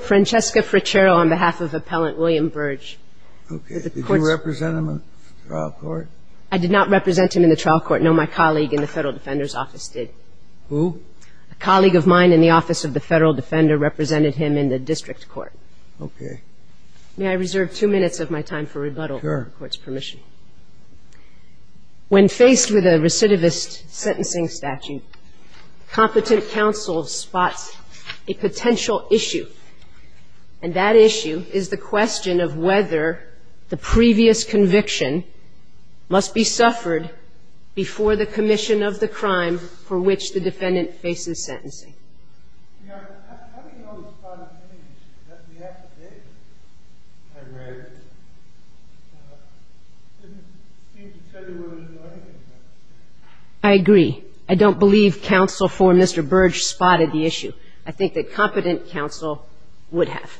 Francesca Frachero on behalf of Appellant William Burdge When faced with a recidivist sentencing statute, competent counsel spots a potential issue, and that issue is the question of whether the previous conviction must be suffered before the commission of the crime for which the defendant faces sentencing. I agree. I don't believe counsel for Mr. Burdge spotted the issue. I think that competent counsel would have.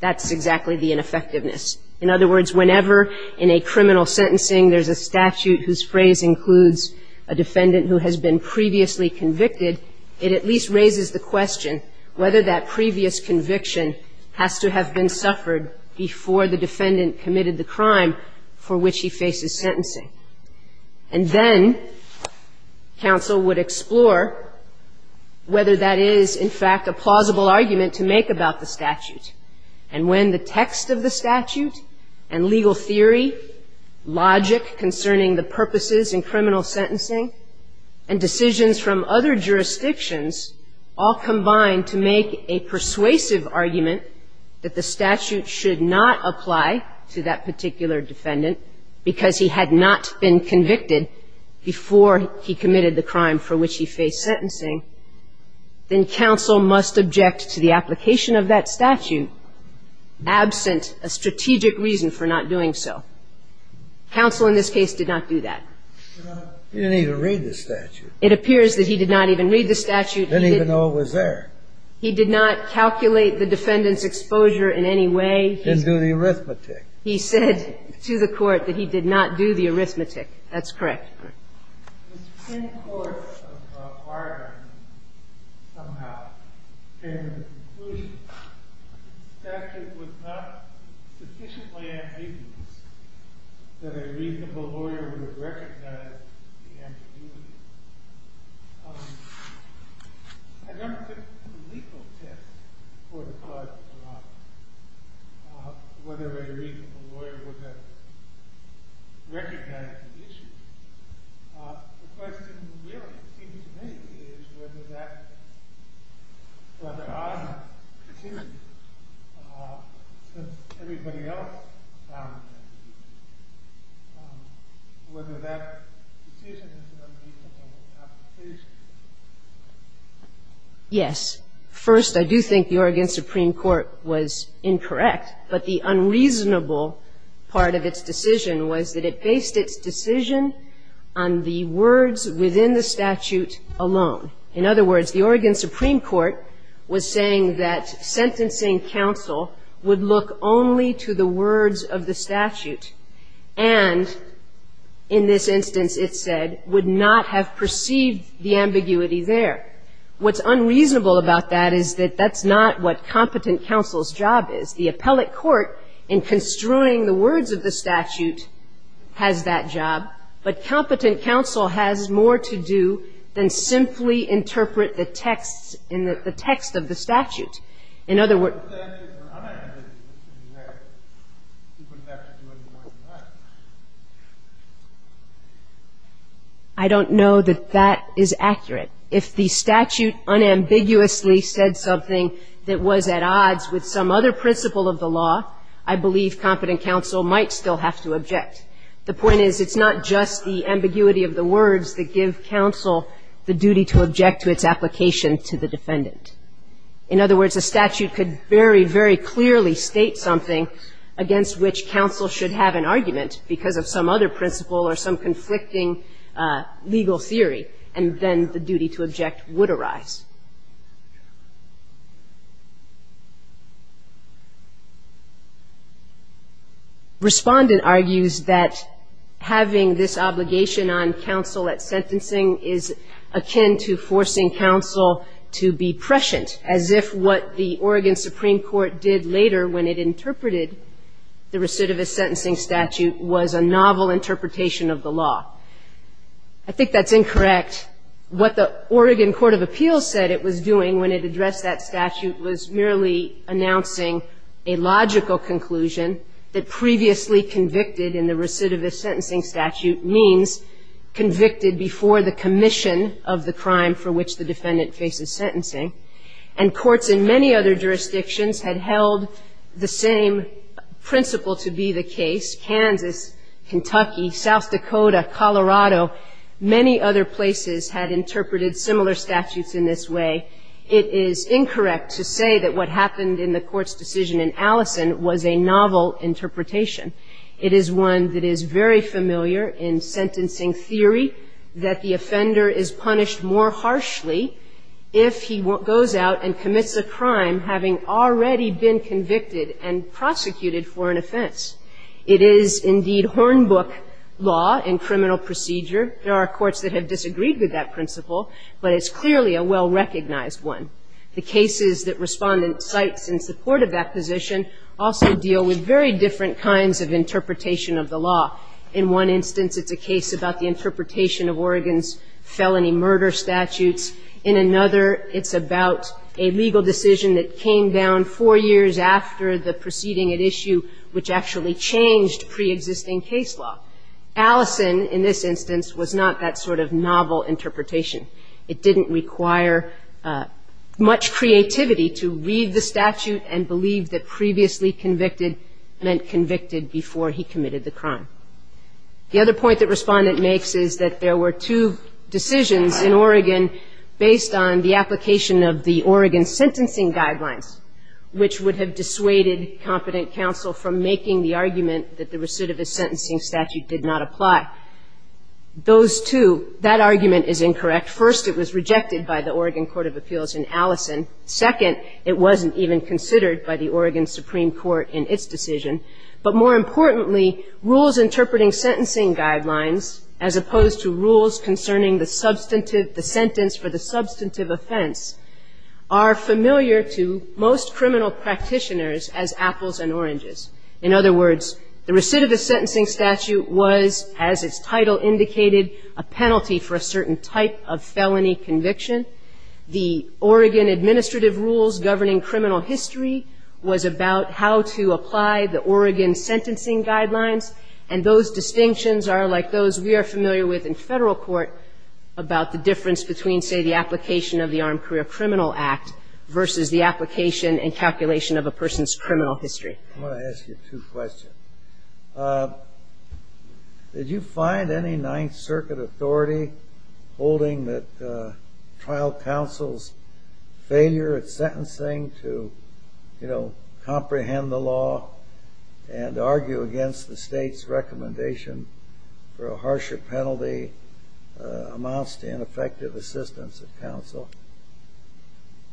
That's exactly the ineffectiveness. In other words, whenever in a criminal sentencing there's a statute whose phrase includes a defendant who has been previously convicted, it at least raises the question whether that previous conviction has to have been suffered before the defendant committed the crime for which he faces sentencing. And then counsel would explore whether that is, in fact, a plausible argument to make about the statute, and when the text of the statute and legal theory, logic concerning the purposes in criminal sentencing, and decisions from other jurisdictions all combine to make a persuasive argument that the statute should not apply to that If the defendant has not been convicted before he committed the crime for which he faced sentencing, then counsel must object to the application of that statute absent a strategic reason for not doing so. Counsel in this case did not do that. He didn't even read the statute. It appears that he did not even read the statute. Didn't even know it was there. He did not calculate the defendant's exposure in any way. Didn't do the arithmetic. He said to the court that he did not do the arithmetic. That's correct. The Supreme Court of Oregon, somehow, came to the conclusion that the statute was not sufficiently ambiguous that a reasonable lawyer would have recognized the ambiguity. I never took a legal test for the clause in the law, whether a reasonable lawyer would have recognized the issue. The question, really, seems to me, is whether that decision is unreasonable application. Yes. First, I do think the Oregon Supreme Court was incorrect. But the unreasonable part of its decision was that it based its decision on the words within the statute alone. In other words, the Oregon Supreme Court was saying that sentencing counsel would look only to the words of the statute and, in this instance, it said, would not have perceived the ambiguity there. What's unreasonable about that is that that's not what competent counsel's job is. The appellate court, in construing the words of the statute, has that job. But competent counsel has more to do than simply interpret the texts in the text of the statute. In other words... What's the answer for unambiguity? What should be there to put it back to doing more than that? I don't know that that is accurate. If the statute unambiguously said something that was at odds with some other principle of the law, I believe competent counsel might still have to object. The point is, it's not just the ambiguity of the words that give counsel the duty to object to its application to the defendant. In other words, a statute could very, very clearly state something against which counsel should have an argument because of some other principle or some conflicting legal theory, and then the duty to object would arise. Respondent argues that having this obligation on counsel at sentencing is akin to forcing counsel to be prescient, as if what the Oregon Supreme Court did later when it interpreted the recidivist sentencing statute was a novel interpretation of the law. I think that's incorrect. What the Oregon Court of Appeals said it was doing when it addressed that statute was merely announcing a logical conclusion that previously convicted in the recidivist sentencing statute means convicted before the commission of the crime for which the defendant faces sentencing. And courts in many other jurisdictions had held the same principle to be the case. Kansas, Kentucky, South Dakota, Colorado, many other places had interpreted similar statutes in this way. It is incorrect to say that what happened in the Court's decision in Allison was a novel interpretation. It is one that is very familiar in sentencing theory, that the offender is punished more harshly if he goes out and commits a crime having already been convicted and prosecuted for an offense. It is indeed Hornbook law and criminal procedure. There are courts that have disagreed with that principle, but it's clearly a well recognized one. The cases that Respondent cites in support of that position also deal with very different kinds of interpretation of the law. In one instance, it's a case about the interpretation of Oregon's felony murder statutes. In another, it's about a legal decision that came down four years after the proceeding at issue, which actually changed preexisting case law. Allison, in this instance, was not that sort of novel interpretation. It didn't require much creativity to read the statute and believe that previously convicted meant convicted before he committed the crime. The other point that Respondent makes is that there were two decisions in Oregon based on the application of the Oregon sentencing guidelines, which would have dissuaded competent counsel from making the argument that the recidivist sentencing statute did not apply. Those two, that argument is incorrect. First, it was rejected by the Oregon Court of Appeals in Allison. Second, it wasn't even considered by the Oregon Supreme Court in its decision. But more importantly, rules interpreting sentencing guidelines, as opposed to rules concerning the substantive, the sentence for the substantive offense, are familiar to most criminal practitioners as apples and oranges. In other words, the recidivist sentencing statute was, as its title indicated, a penalty for a certain type of felony conviction. The Oregon administrative rules governing criminal history was about how to apply the Oregon sentencing guidelines, and those distinctions are like those we are familiar with in Federal court about the difference between, say, the application of the Armed Career Criminal Act versus the application and calculation of a person's criminal history. I want to ask you two questions. Did you find any Ninth Circuit authority holding that trial counsel's failure at sentencing to, you know, comprehend the law and argue against the state's recommendation for a harsher penalty amounts to ineffective assistance at counsel?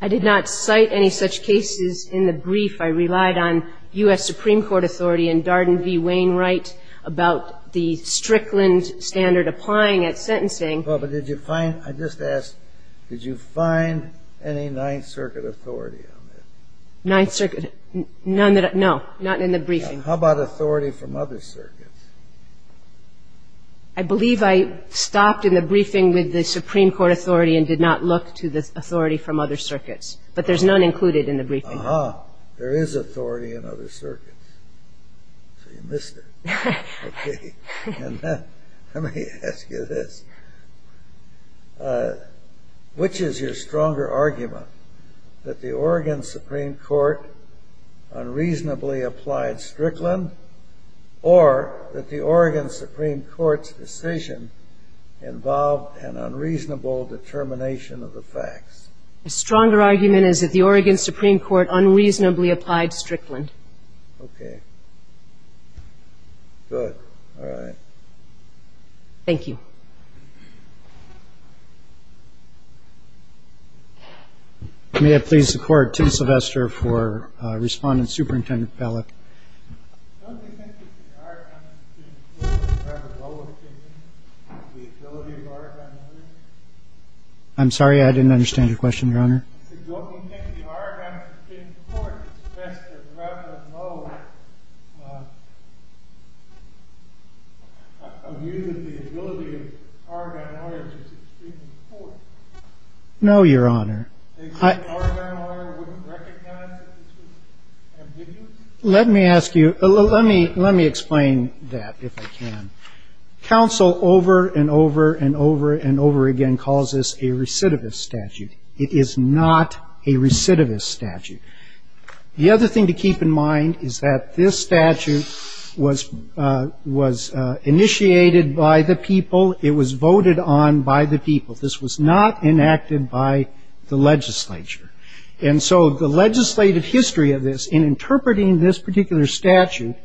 I did not cite any such cases in the brief. I relied on U.S. Supreme Court authority and Darden v. Wainwright about the Strickland standard applying at sentencing. Well, but did you find, I just asked, did you find any Ninth Circuit authority on that? Ninth Circuit, none that, no, not in the briefing. How about authority from other circuits? I believe I stopped in the briefing with the Supreme Court authority and did not look to the authority from other circuits, but there's none included in the briefing. Uh-huh. There is authority in other circuits. So you missed it. Okay. Let me ask you this. Which is your stronger argument, that the Oregon Supreme Court unreasonably applied Strickland or that the Oregon Supreme Court's decision involved an inappropriation of facts? The stronger argument is that the Oregon Supreme Court unreasonably applied Strickland. Okay. Good. All right. Thank you. May I please record to Sylvester for Respondent Superintendent Pollack. I'm sorry. I didn't understand your question, Your Honor. I said, don't you think the Oregon Supreme Court, Sylvester, rather than lower a view that the ability of Oregon lawyers is extremely poor? No, Your Honor. They think Oregon lawyers wouldn't recognize that this was ambiguous? Let me ask you, let me explain that, if I can. Counsel over and over and over and over again calls this a recidivist statute. It is not a recidivist statute. The other thing to keep in mind is that this statute was initiated by the people. It was voted on by the people. This was not enacted by the legislature. And so the legislative history of this, in interpreting this particular statute,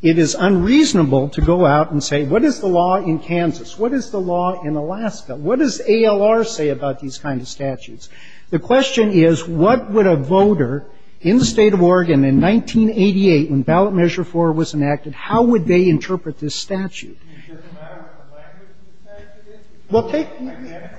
it is unreasonable to go out and say, what is the law in Kansas? What is the law in Alaska? What does ALR say about these kind of statutes? The question is, what would a voter in the state of Oregon in 1988, when Ballot Measure 4 was enacted, how would they interpret this statute? Does it matter what language the statute is?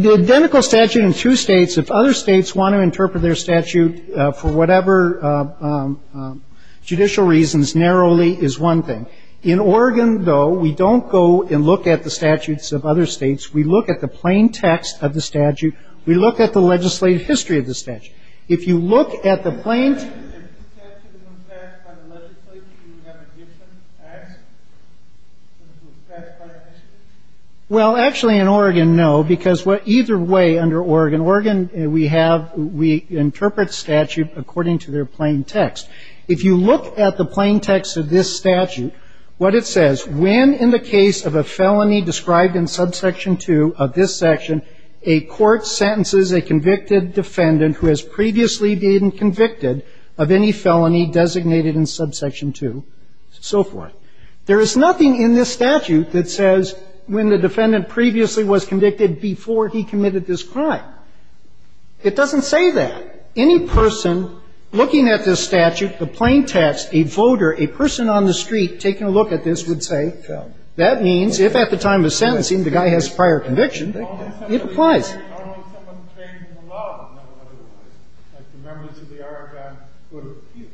Identical statute in two states? The identical statute in two states, if other states want to interpret their statute for whatever judicial reasons, narrowly, is one thing. In Oregon, though, we don't go and look at the statutes of other states. We look at the plain text of the statute. We look at the legislative history of the statute. If you look at the plain text of the statute, by the legislature, you have a different access to the statute? Well, actually, in Oregon, no, because either way under Oregon, we interpret statute according to their plain text. If you look at the plain text of this statute, what it says, when in the case of a felony described in subsection 2 of this section, a court sentences a convicted defendant who has previously been convicted of any felony designated in subsection 2, so forth. There is nothing in this statute that says when the defendant previously was convicted before he committed this crime. It doesn't say that. Any person looking at this statute, the plain text, a voter, a person on the street taking a look at this would say, that means if at the time of sentencing the guy has prior conviction, it applies. I don't know if someone came along, otherwise, like the members of the Oregon Court of Appeals.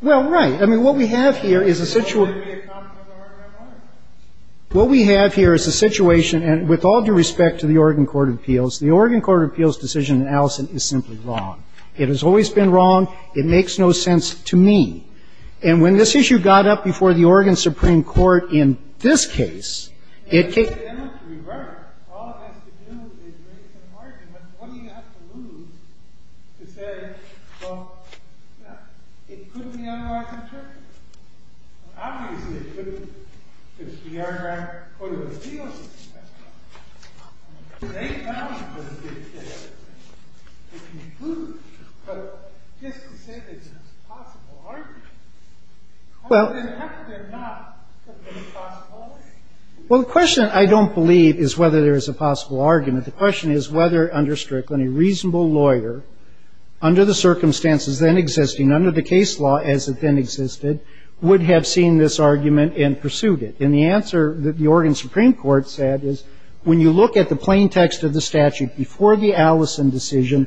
Well, right. I mean, what we have here is a situation. It would only be a conflict of the Oregon Court of Appeals. What we have here is a situation, and with all due respect to the Oregon Court of Appeals, the Oregon Court of Appeals decision in Allison is simply wrong. It has always been wrong. It makes no sense to me. And when this issue got up before the Oregon Supreme Court in this case, it did. If they were to revert, all it has to do is raise an argument. What do you have to lose to say, well, yeah, it could be otherwise interpreted? Obviously, it couldn't. It's the Oregon Court of Appeals. It's the Oregon Court of Appeals. It's the Oregon Court of Appeals. But just to say that it's a possible argument. Well. Well, the question I don't believe is whether there is a possible argument. The question is whether, under Strickland, a reasonable lawyer, under the circumstances then existing, under the case law as it then existed, would have seen this argument and pursued it. And the answer that the Oregon Supreme Court said is, when you look at the plain text of the statute before the Allison decision,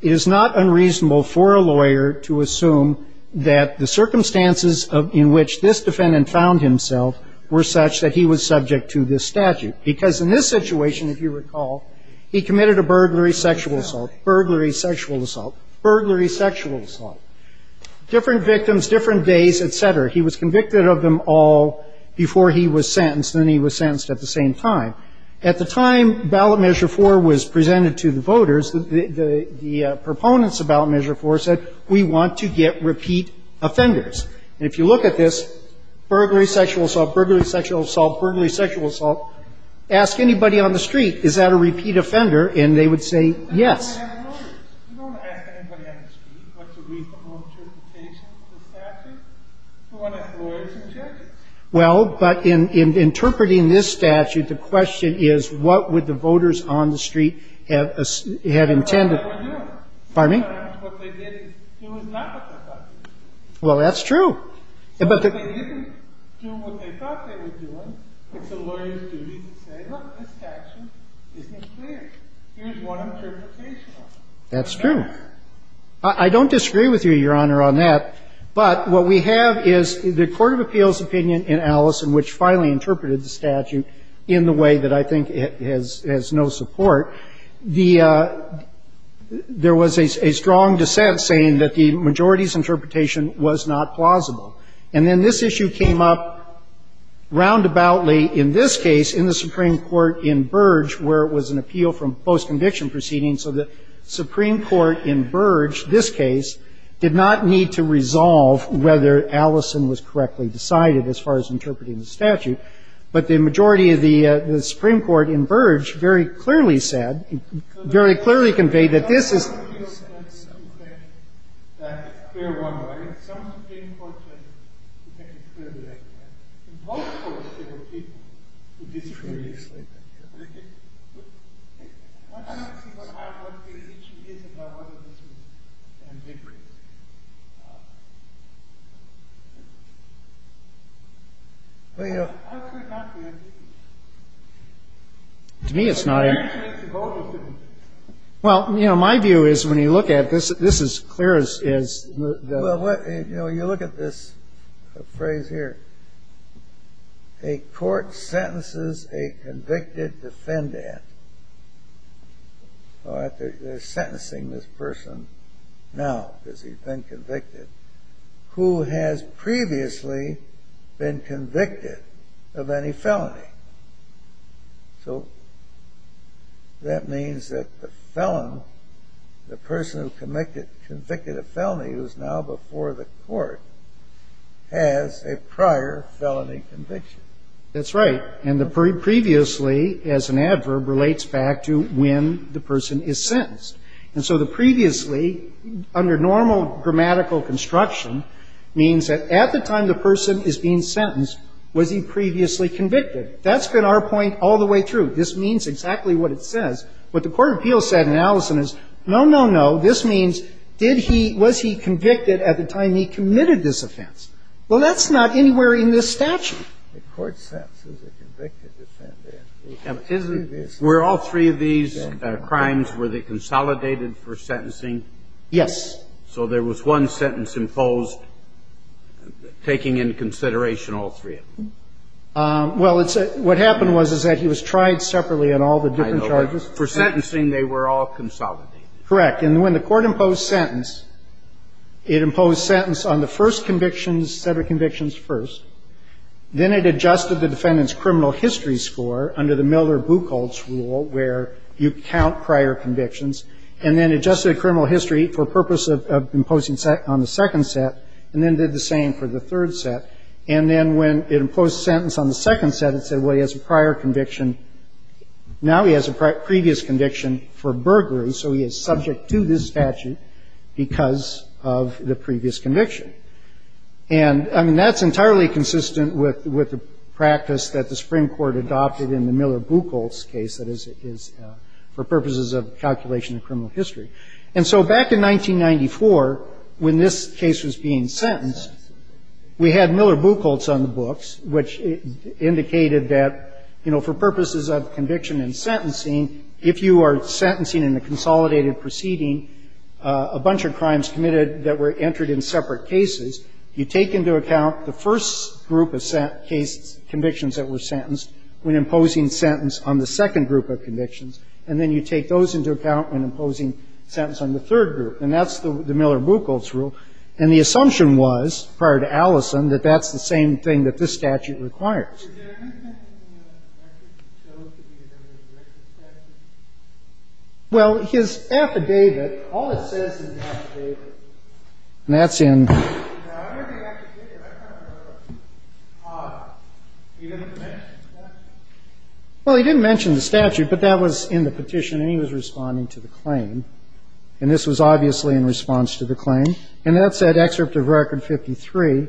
it is not unreasonable for a lawyer to assume that the circumstances in which this defendant found himself were such that he was subject to this statute. Because in this situation, if you recall, he committed a burglary sexual assault, burglary sexual assault, burglary sexual assault. Different victims, different days, et cetera. He was convicted of them all before he was sentenced. Then he was sentenced at the same time. At the time ballot measure four was presented to the voters, the proponents of repeated offenders. And if you look at this, burglary sexual assault, burglary sexual assault, burglary sexual assault, ask anybody on the street, is that a repeat offender? And they would say yes. You don't want to ask anybody on the street what's the reasonable interpretation of the statute. You want to ask lawyers and judges. Well, but in interpreting this statute, the question is, what would the voters on the street have intended? What would they do? Pardon me? What they did was not what they thought they were doing. Well, that's true. So if they didn't do what they thought they were doing, it's the lawyer's duty to say, look, this statute isn't clear. Here's one interpretation of it. That's true. I don't disagree with you, Your Honor, on that. But what we have is the Court of Appeals opinion in Allison, which finally interpreted the statute in the way that I think has no support. There was a strong dissent saying that the majority's interpretation was not plausible. And then this issue came up roundaboutly in this case in the Supreme Court in Burge, where it was an appeal from post-conviction proceedings. So the Supreme Court in Burge, this case, did not need to resolve whether Allison was correctly decided as far as interpreting the statute. But the majority of the Supreme Court in Burge very clearly said, very clearly conveyed that this is- Well, I mean, some Supreme Court judges said it clearly like that. In both cases, there were people who disagreed. I don't see what the issue is about whether this was ambiguous. Well, you know- How could it not be ambiguous? To me, it's not- Well, you know, my view is when you look at this, this is clear as- You look at this phrase here. A court sentences a convicted defendant. They're sentencing this person now because he's been convicted, who has previously been convicted of any felony. So that means that the felon, the person who convicted a felony, who's now before the court, has a prior felony conviction. That's right. And the previously, as an adverb, relates back to when the person is sentenced. And so the previously, under normal grammatical construction, means that at the time the person is being sentenced, was he previously convicted? That's been our point all the way through. This means exactly what it says. What the court of appeals said in Allison is, no, no, no. This means, did he, was he convicted at the time he committed this offense? Well, that's not anywhere in this statute. The court sentences a convicted defendant. Isn't this- Were all three of these crimes, were they consolidated for sentencing? Yes. So there was one sentence imposed, taking into consideration all three of them. Well, it's a- What happened was, is that he was tried separately on all the different charges. For sentencing, they were all consolidated. Correct. And when the court imposed sentence, it imposed sentence on the first convictions set of convictions first. Then it adjusted the defendant's criminal history score under the Miller-Buchholz rule, where you count prior convictions. And then it adjusted the criminal history for purpose of imposing on the second set, and then did the same for the third set. And then when it imposed sentence on the second set, it said, well, he has a prior conviction. Now he has a previous conviction for burglary, so he is subject to this statute because of the previous conviction. And, I mean, that's entirely consistent with the practice that the Supreme Court adopted in the Miller-Buchholz case that is for purposes of calculation of criminal history. And so back in 1994, when this case was being sentenced, we had Miller-Buchholz on the books, which indicated that, you know, for purposes of conviction and sentencing, if you are sentencing in a consolidated proceeding, a bunch of crimes committed that were entered in separate cases, you take into account the first group of convictions that were sentenced when imposing sentence on the second group of convictions. And then you take those into account when imposing sentence on the third group. And that's the Miller-Buchholz rule. And the assumption was, prior to Allison, that that's the same thing that this statute requires. Q. Is there anything in the statute that shows that he has ever written a statute? A. Well, his affidavit, all it says in the affidavit, and that's in the petition. Q. Now, I read the affidavit. I've never heard of it. He didn't mention the statute? A. Well, he didn't mention the statute, but that was in the petition and he was responding to the claim. And this was obviously in response to the claim. And that's that excerpt of Record 53.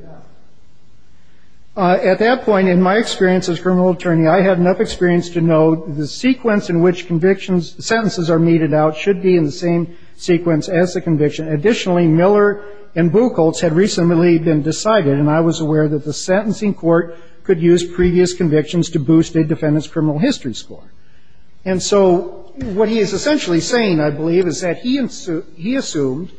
At that point, in my experience as criminal attorney, I had enough experience to know the sequence in which convictions, sentences are meted out should be in the same sequence as the conviction. Additionally, Miller and Buchholz had recently been decided, and I was aware that the sentencing court could use previous convictions to boost a defendant's criminal history score. And so what he is essentially saying, I believe, is that he assumed,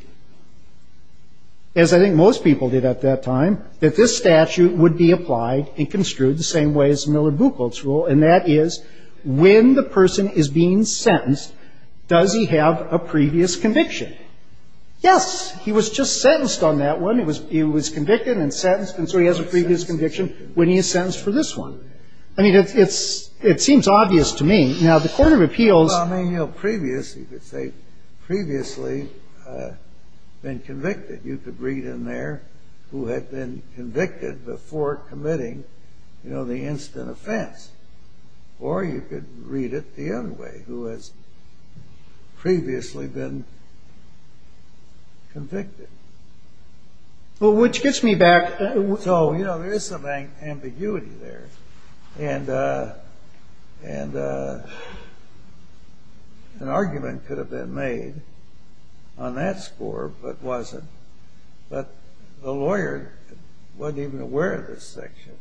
as I think most people did at that time, that this statute would be applied and construed the same way as Miller-Buchholz rule, and that is when the person is being sentenced, does he have a previous conviction? Yes. He was just sentenced on that one. He was convicted and sentenced, and so he has a previous conviction when he is sentenced for this one. I mean, it seems obvious to me. Now, the Court of Appeals. Well, I mean, you know, previous, you could say previously been convicted. You could read in there who had been convicted before committing, you know, the instant offense. Or you could read it the other way, who has previously been convicted. Well, which gets me back. So, you know, there is some ambiguity there. And an argument could have been made on that score, but wasn't. But the lawyer wasn't even aware of this section.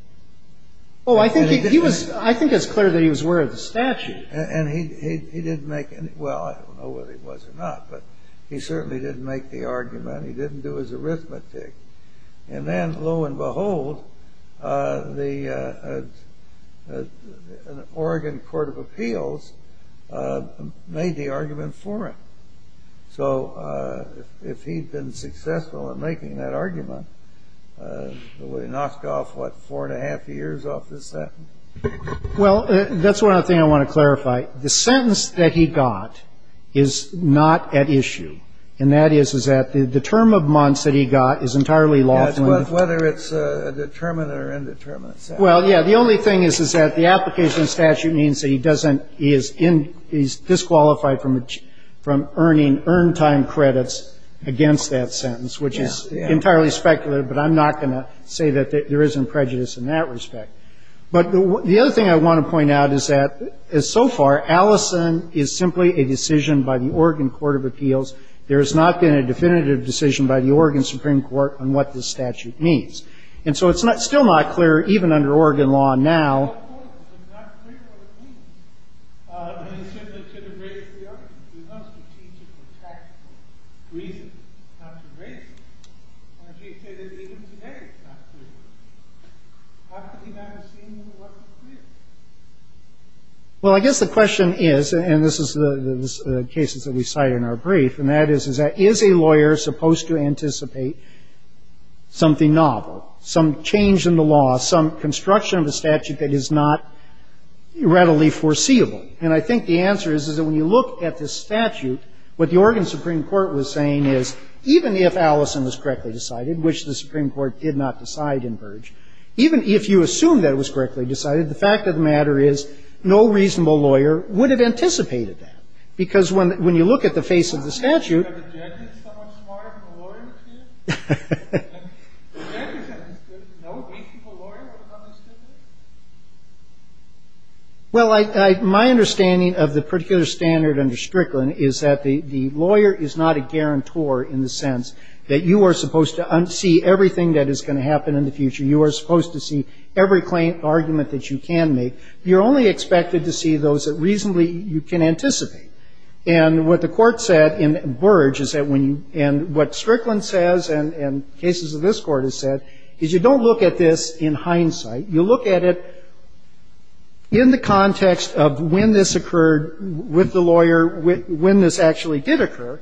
Oh, I think he was. I think it's clear that he was aware of the statute. And he didn't make any. Well, I don't know whether he was or not, but he certainly didn't make the argument. He didn't do his arithmetic. And then, lo and behold, the Oregon Court of Appeals made the argument for him. So if he had been successful in making that argument, he would have knocked off, what, four and a half years off his sentence. Well, that's one other thing I want to clarify. The sentence that he got is not at issue. And that is, is that the term of months that he got is entirely lawful. Whether it's a determinate or indeterminate sentence. Well, yeah. The only thing is, is that the application statute means that he doesn't, he is disqualified from earning earned time credits against that sentence, which is entirely speculative. But I'm not going to say that there isn't prejudice in that respect. But the other thing I want to point out is that, so far, Allison is simply a decision by the Oregon Court of Appeals. There has not been a definitive decision by the Oregon Supreme Court on what this statute means. And so it's still not clear, even under Oregon law now. Well, I guess the question is, and this is the cases that we cite in our brief, and that is, is a lawyer supposed to anticipate something novel, some change in the law, some construction of a statute that is not readily foreseeable? And I think the answer is, is that when you look at this statute, what the Oregon Supreme Court was saying is, even if Allison was correctly decided, which the Supreme Court did not decide in Burge, even if you assume that it was correctly decided, the fact of the matter is, no reasonable lawyer would have anticipated that. Because when you look at the face of the statute. Well, my understanding of the particular standard under Strickland is that the lawyer is not a guarantor in the sense that you are supposed to see everything that is going to happen in the future. You are supposed to see every claim, argument that you can make. You're only expected to see those that reasonably you can anticipate. And what the Court said in Burge is that when you, and what Strickland says and cases of this Court has said, is you don't look at this in hindsight. You look at it in the context of when this occurred with the lawyer, when this actually did occur.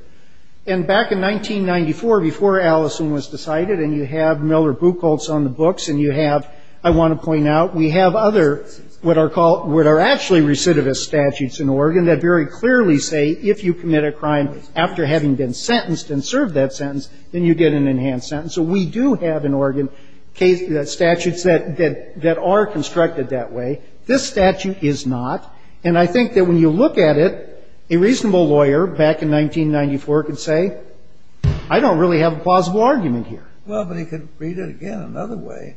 And back in 1994, before Allison was decided, and you have Miller Buchholz on the books, and you have, I want to point out, we have other, what are actually recidivist statutes in Oregon that very clearly say if you commit a crime after having been sentenced and served that sentence, then you get an enhanced sentence. So we do have in Oregon statutes that are constructed that way. This statute is not. And I think that when you look at it, a reasonable lawyer back in 1994 could say, I don't really have a plausible argument here. Well, but he could read it again another way.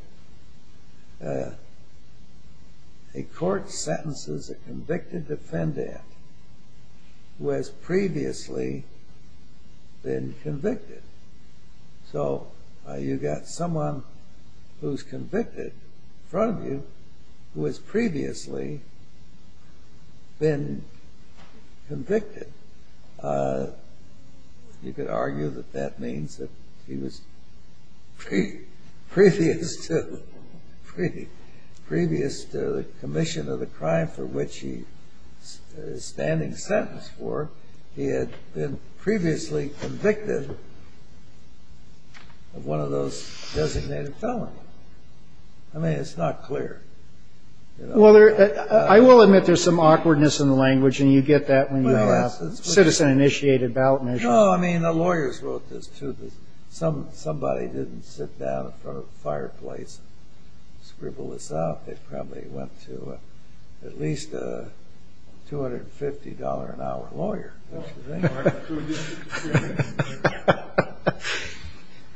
A court sentences a convicted defendant who has previously been convicted. So you've got someone who's convicted in front of you who has previously been convicted. You could argue that that means that he was previous to the commission of the crime for which he is standing sentence for. He had been previously convicted of one of those designated felonies. I mean, it's not clear. Well, I will admit there's some awkwardness in the language, and you get that when you have citizen-initiated ballot measures. No, I mean, the lawyers wrote this, too. Somebody didn't sit down in front of a fireplace and scribble this up. It probably went to at least a $250-an-hour lawyer.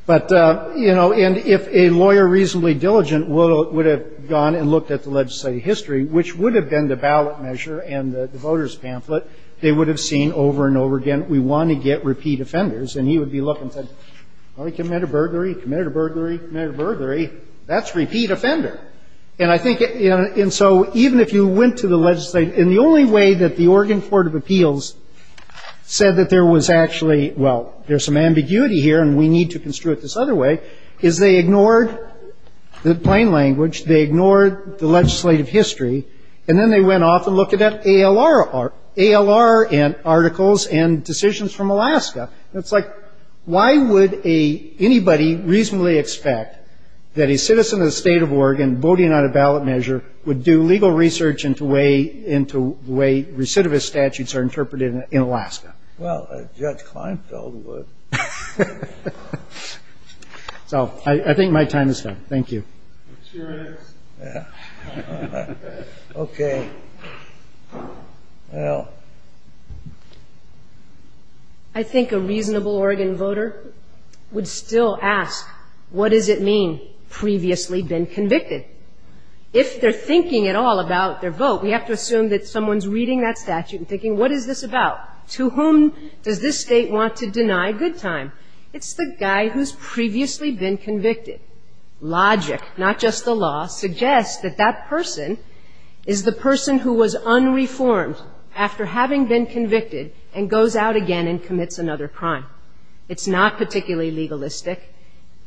But, you know, and if a lawyer reasonably diligent would have gone and looked at the legislative history, which would have been the ballot measure and the voters pamphlet, they would have seen over and over again, we want to get repeat offenders. And he would be looking and said, oh, he committed a burglary, committed a burglary, committed a burglary. That's repeat offender. And I think, you know, and so even if you went to the legislative, and the only way that the Oregon Court of Appeals said that there was actually, well, there's some legislative history, and then they went off and looked at ALR articles and decisions from Alaska. And it's like, why would anybody reasonably expect that a citizen of the state of Oregon voting on a ballot measure would do legal research into the way recidivist statutes are interpreted in Alaska? Well, Judge Kleinfeld would. So I think my time is up. Thank you. Sure is. Yeah. OK. Well. I think a reasonable Oregon voter would still ask, what does it mean, previously been convicted? If they're thinking at all about their vote, we have to assume that someone's reading that statute and thinking, what is this about? To whom does this state want to deny good time? It's the guy who's previously been convicted. Logic, not just the law, suggests that that person is the person who was unreformed after having been convicted and goes out again and commits another crime. It's not particularly legalistic.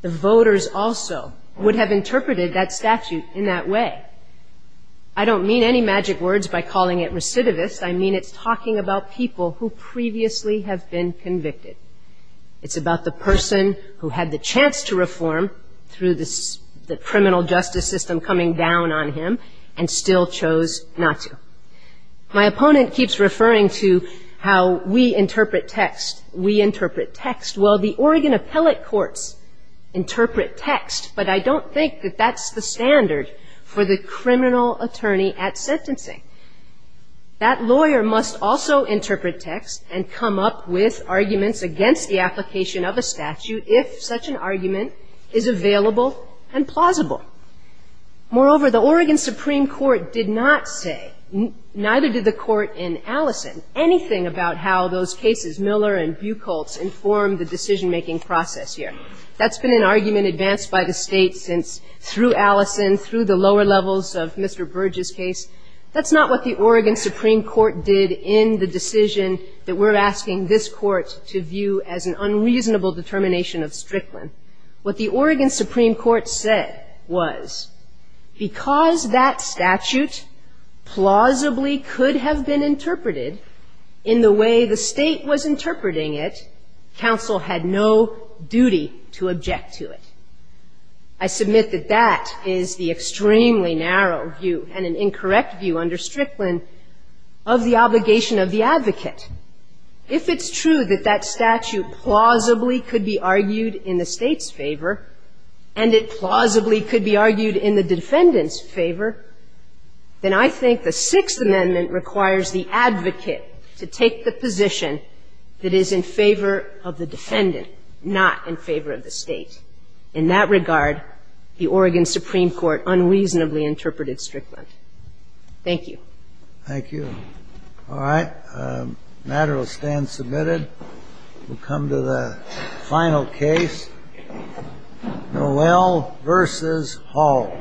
The voters also would have interpreted that statute in that way. I don't mean any magic words by calling it recidivist. I mean it's talking about people who previously have been convicted. It's about the person who had the chance to reform through the criminal justice system coming down on him and still chose not to. My opponent keeps referring to how we interpret text. We interpret text. Well, the Oregon appellate courts interpret text, but I don't think that that's the standard for the criminal attorney at sentencing. That lawyer must also interpret text and come up with arguments against the application of a statute if such an argument is available and plausible. Moreover, the Oregon Supreme Court did not say, neither did the court in Allison, anything about how those cases, Miller and Bucholtz, informed the decision-making process here. That's been an argument advanced by the state since through Allison, through the lower levels of Mr. Burge's case. That's not what the Oregon Supreme Court did in the decision that we're asking this court to view as an unreasonable determination of Strickland. What the Oregon Supreme Court said was because that statute plausibly could have been interpreted in the way the state was interpreting it, counsel had no duty to object to it. I submit that that is the extremely narrow view and an incorrect view under Strickland of the obligation of the advocate. If it's true that that statute plausibly could be argued in the State's favor and it plausibly could be argued in the defendant's favor, then I think the Sixth Amendment requires the advocate to take the position that is in favor of the defendant, not in favor of the State. In that regard, the Oregon Supreme Court unreasonably interpreted Strickland. Thank you. Thank you. All right. The matter will stand submitted. We'll come to the final case, Noel versus Hall. Thank you.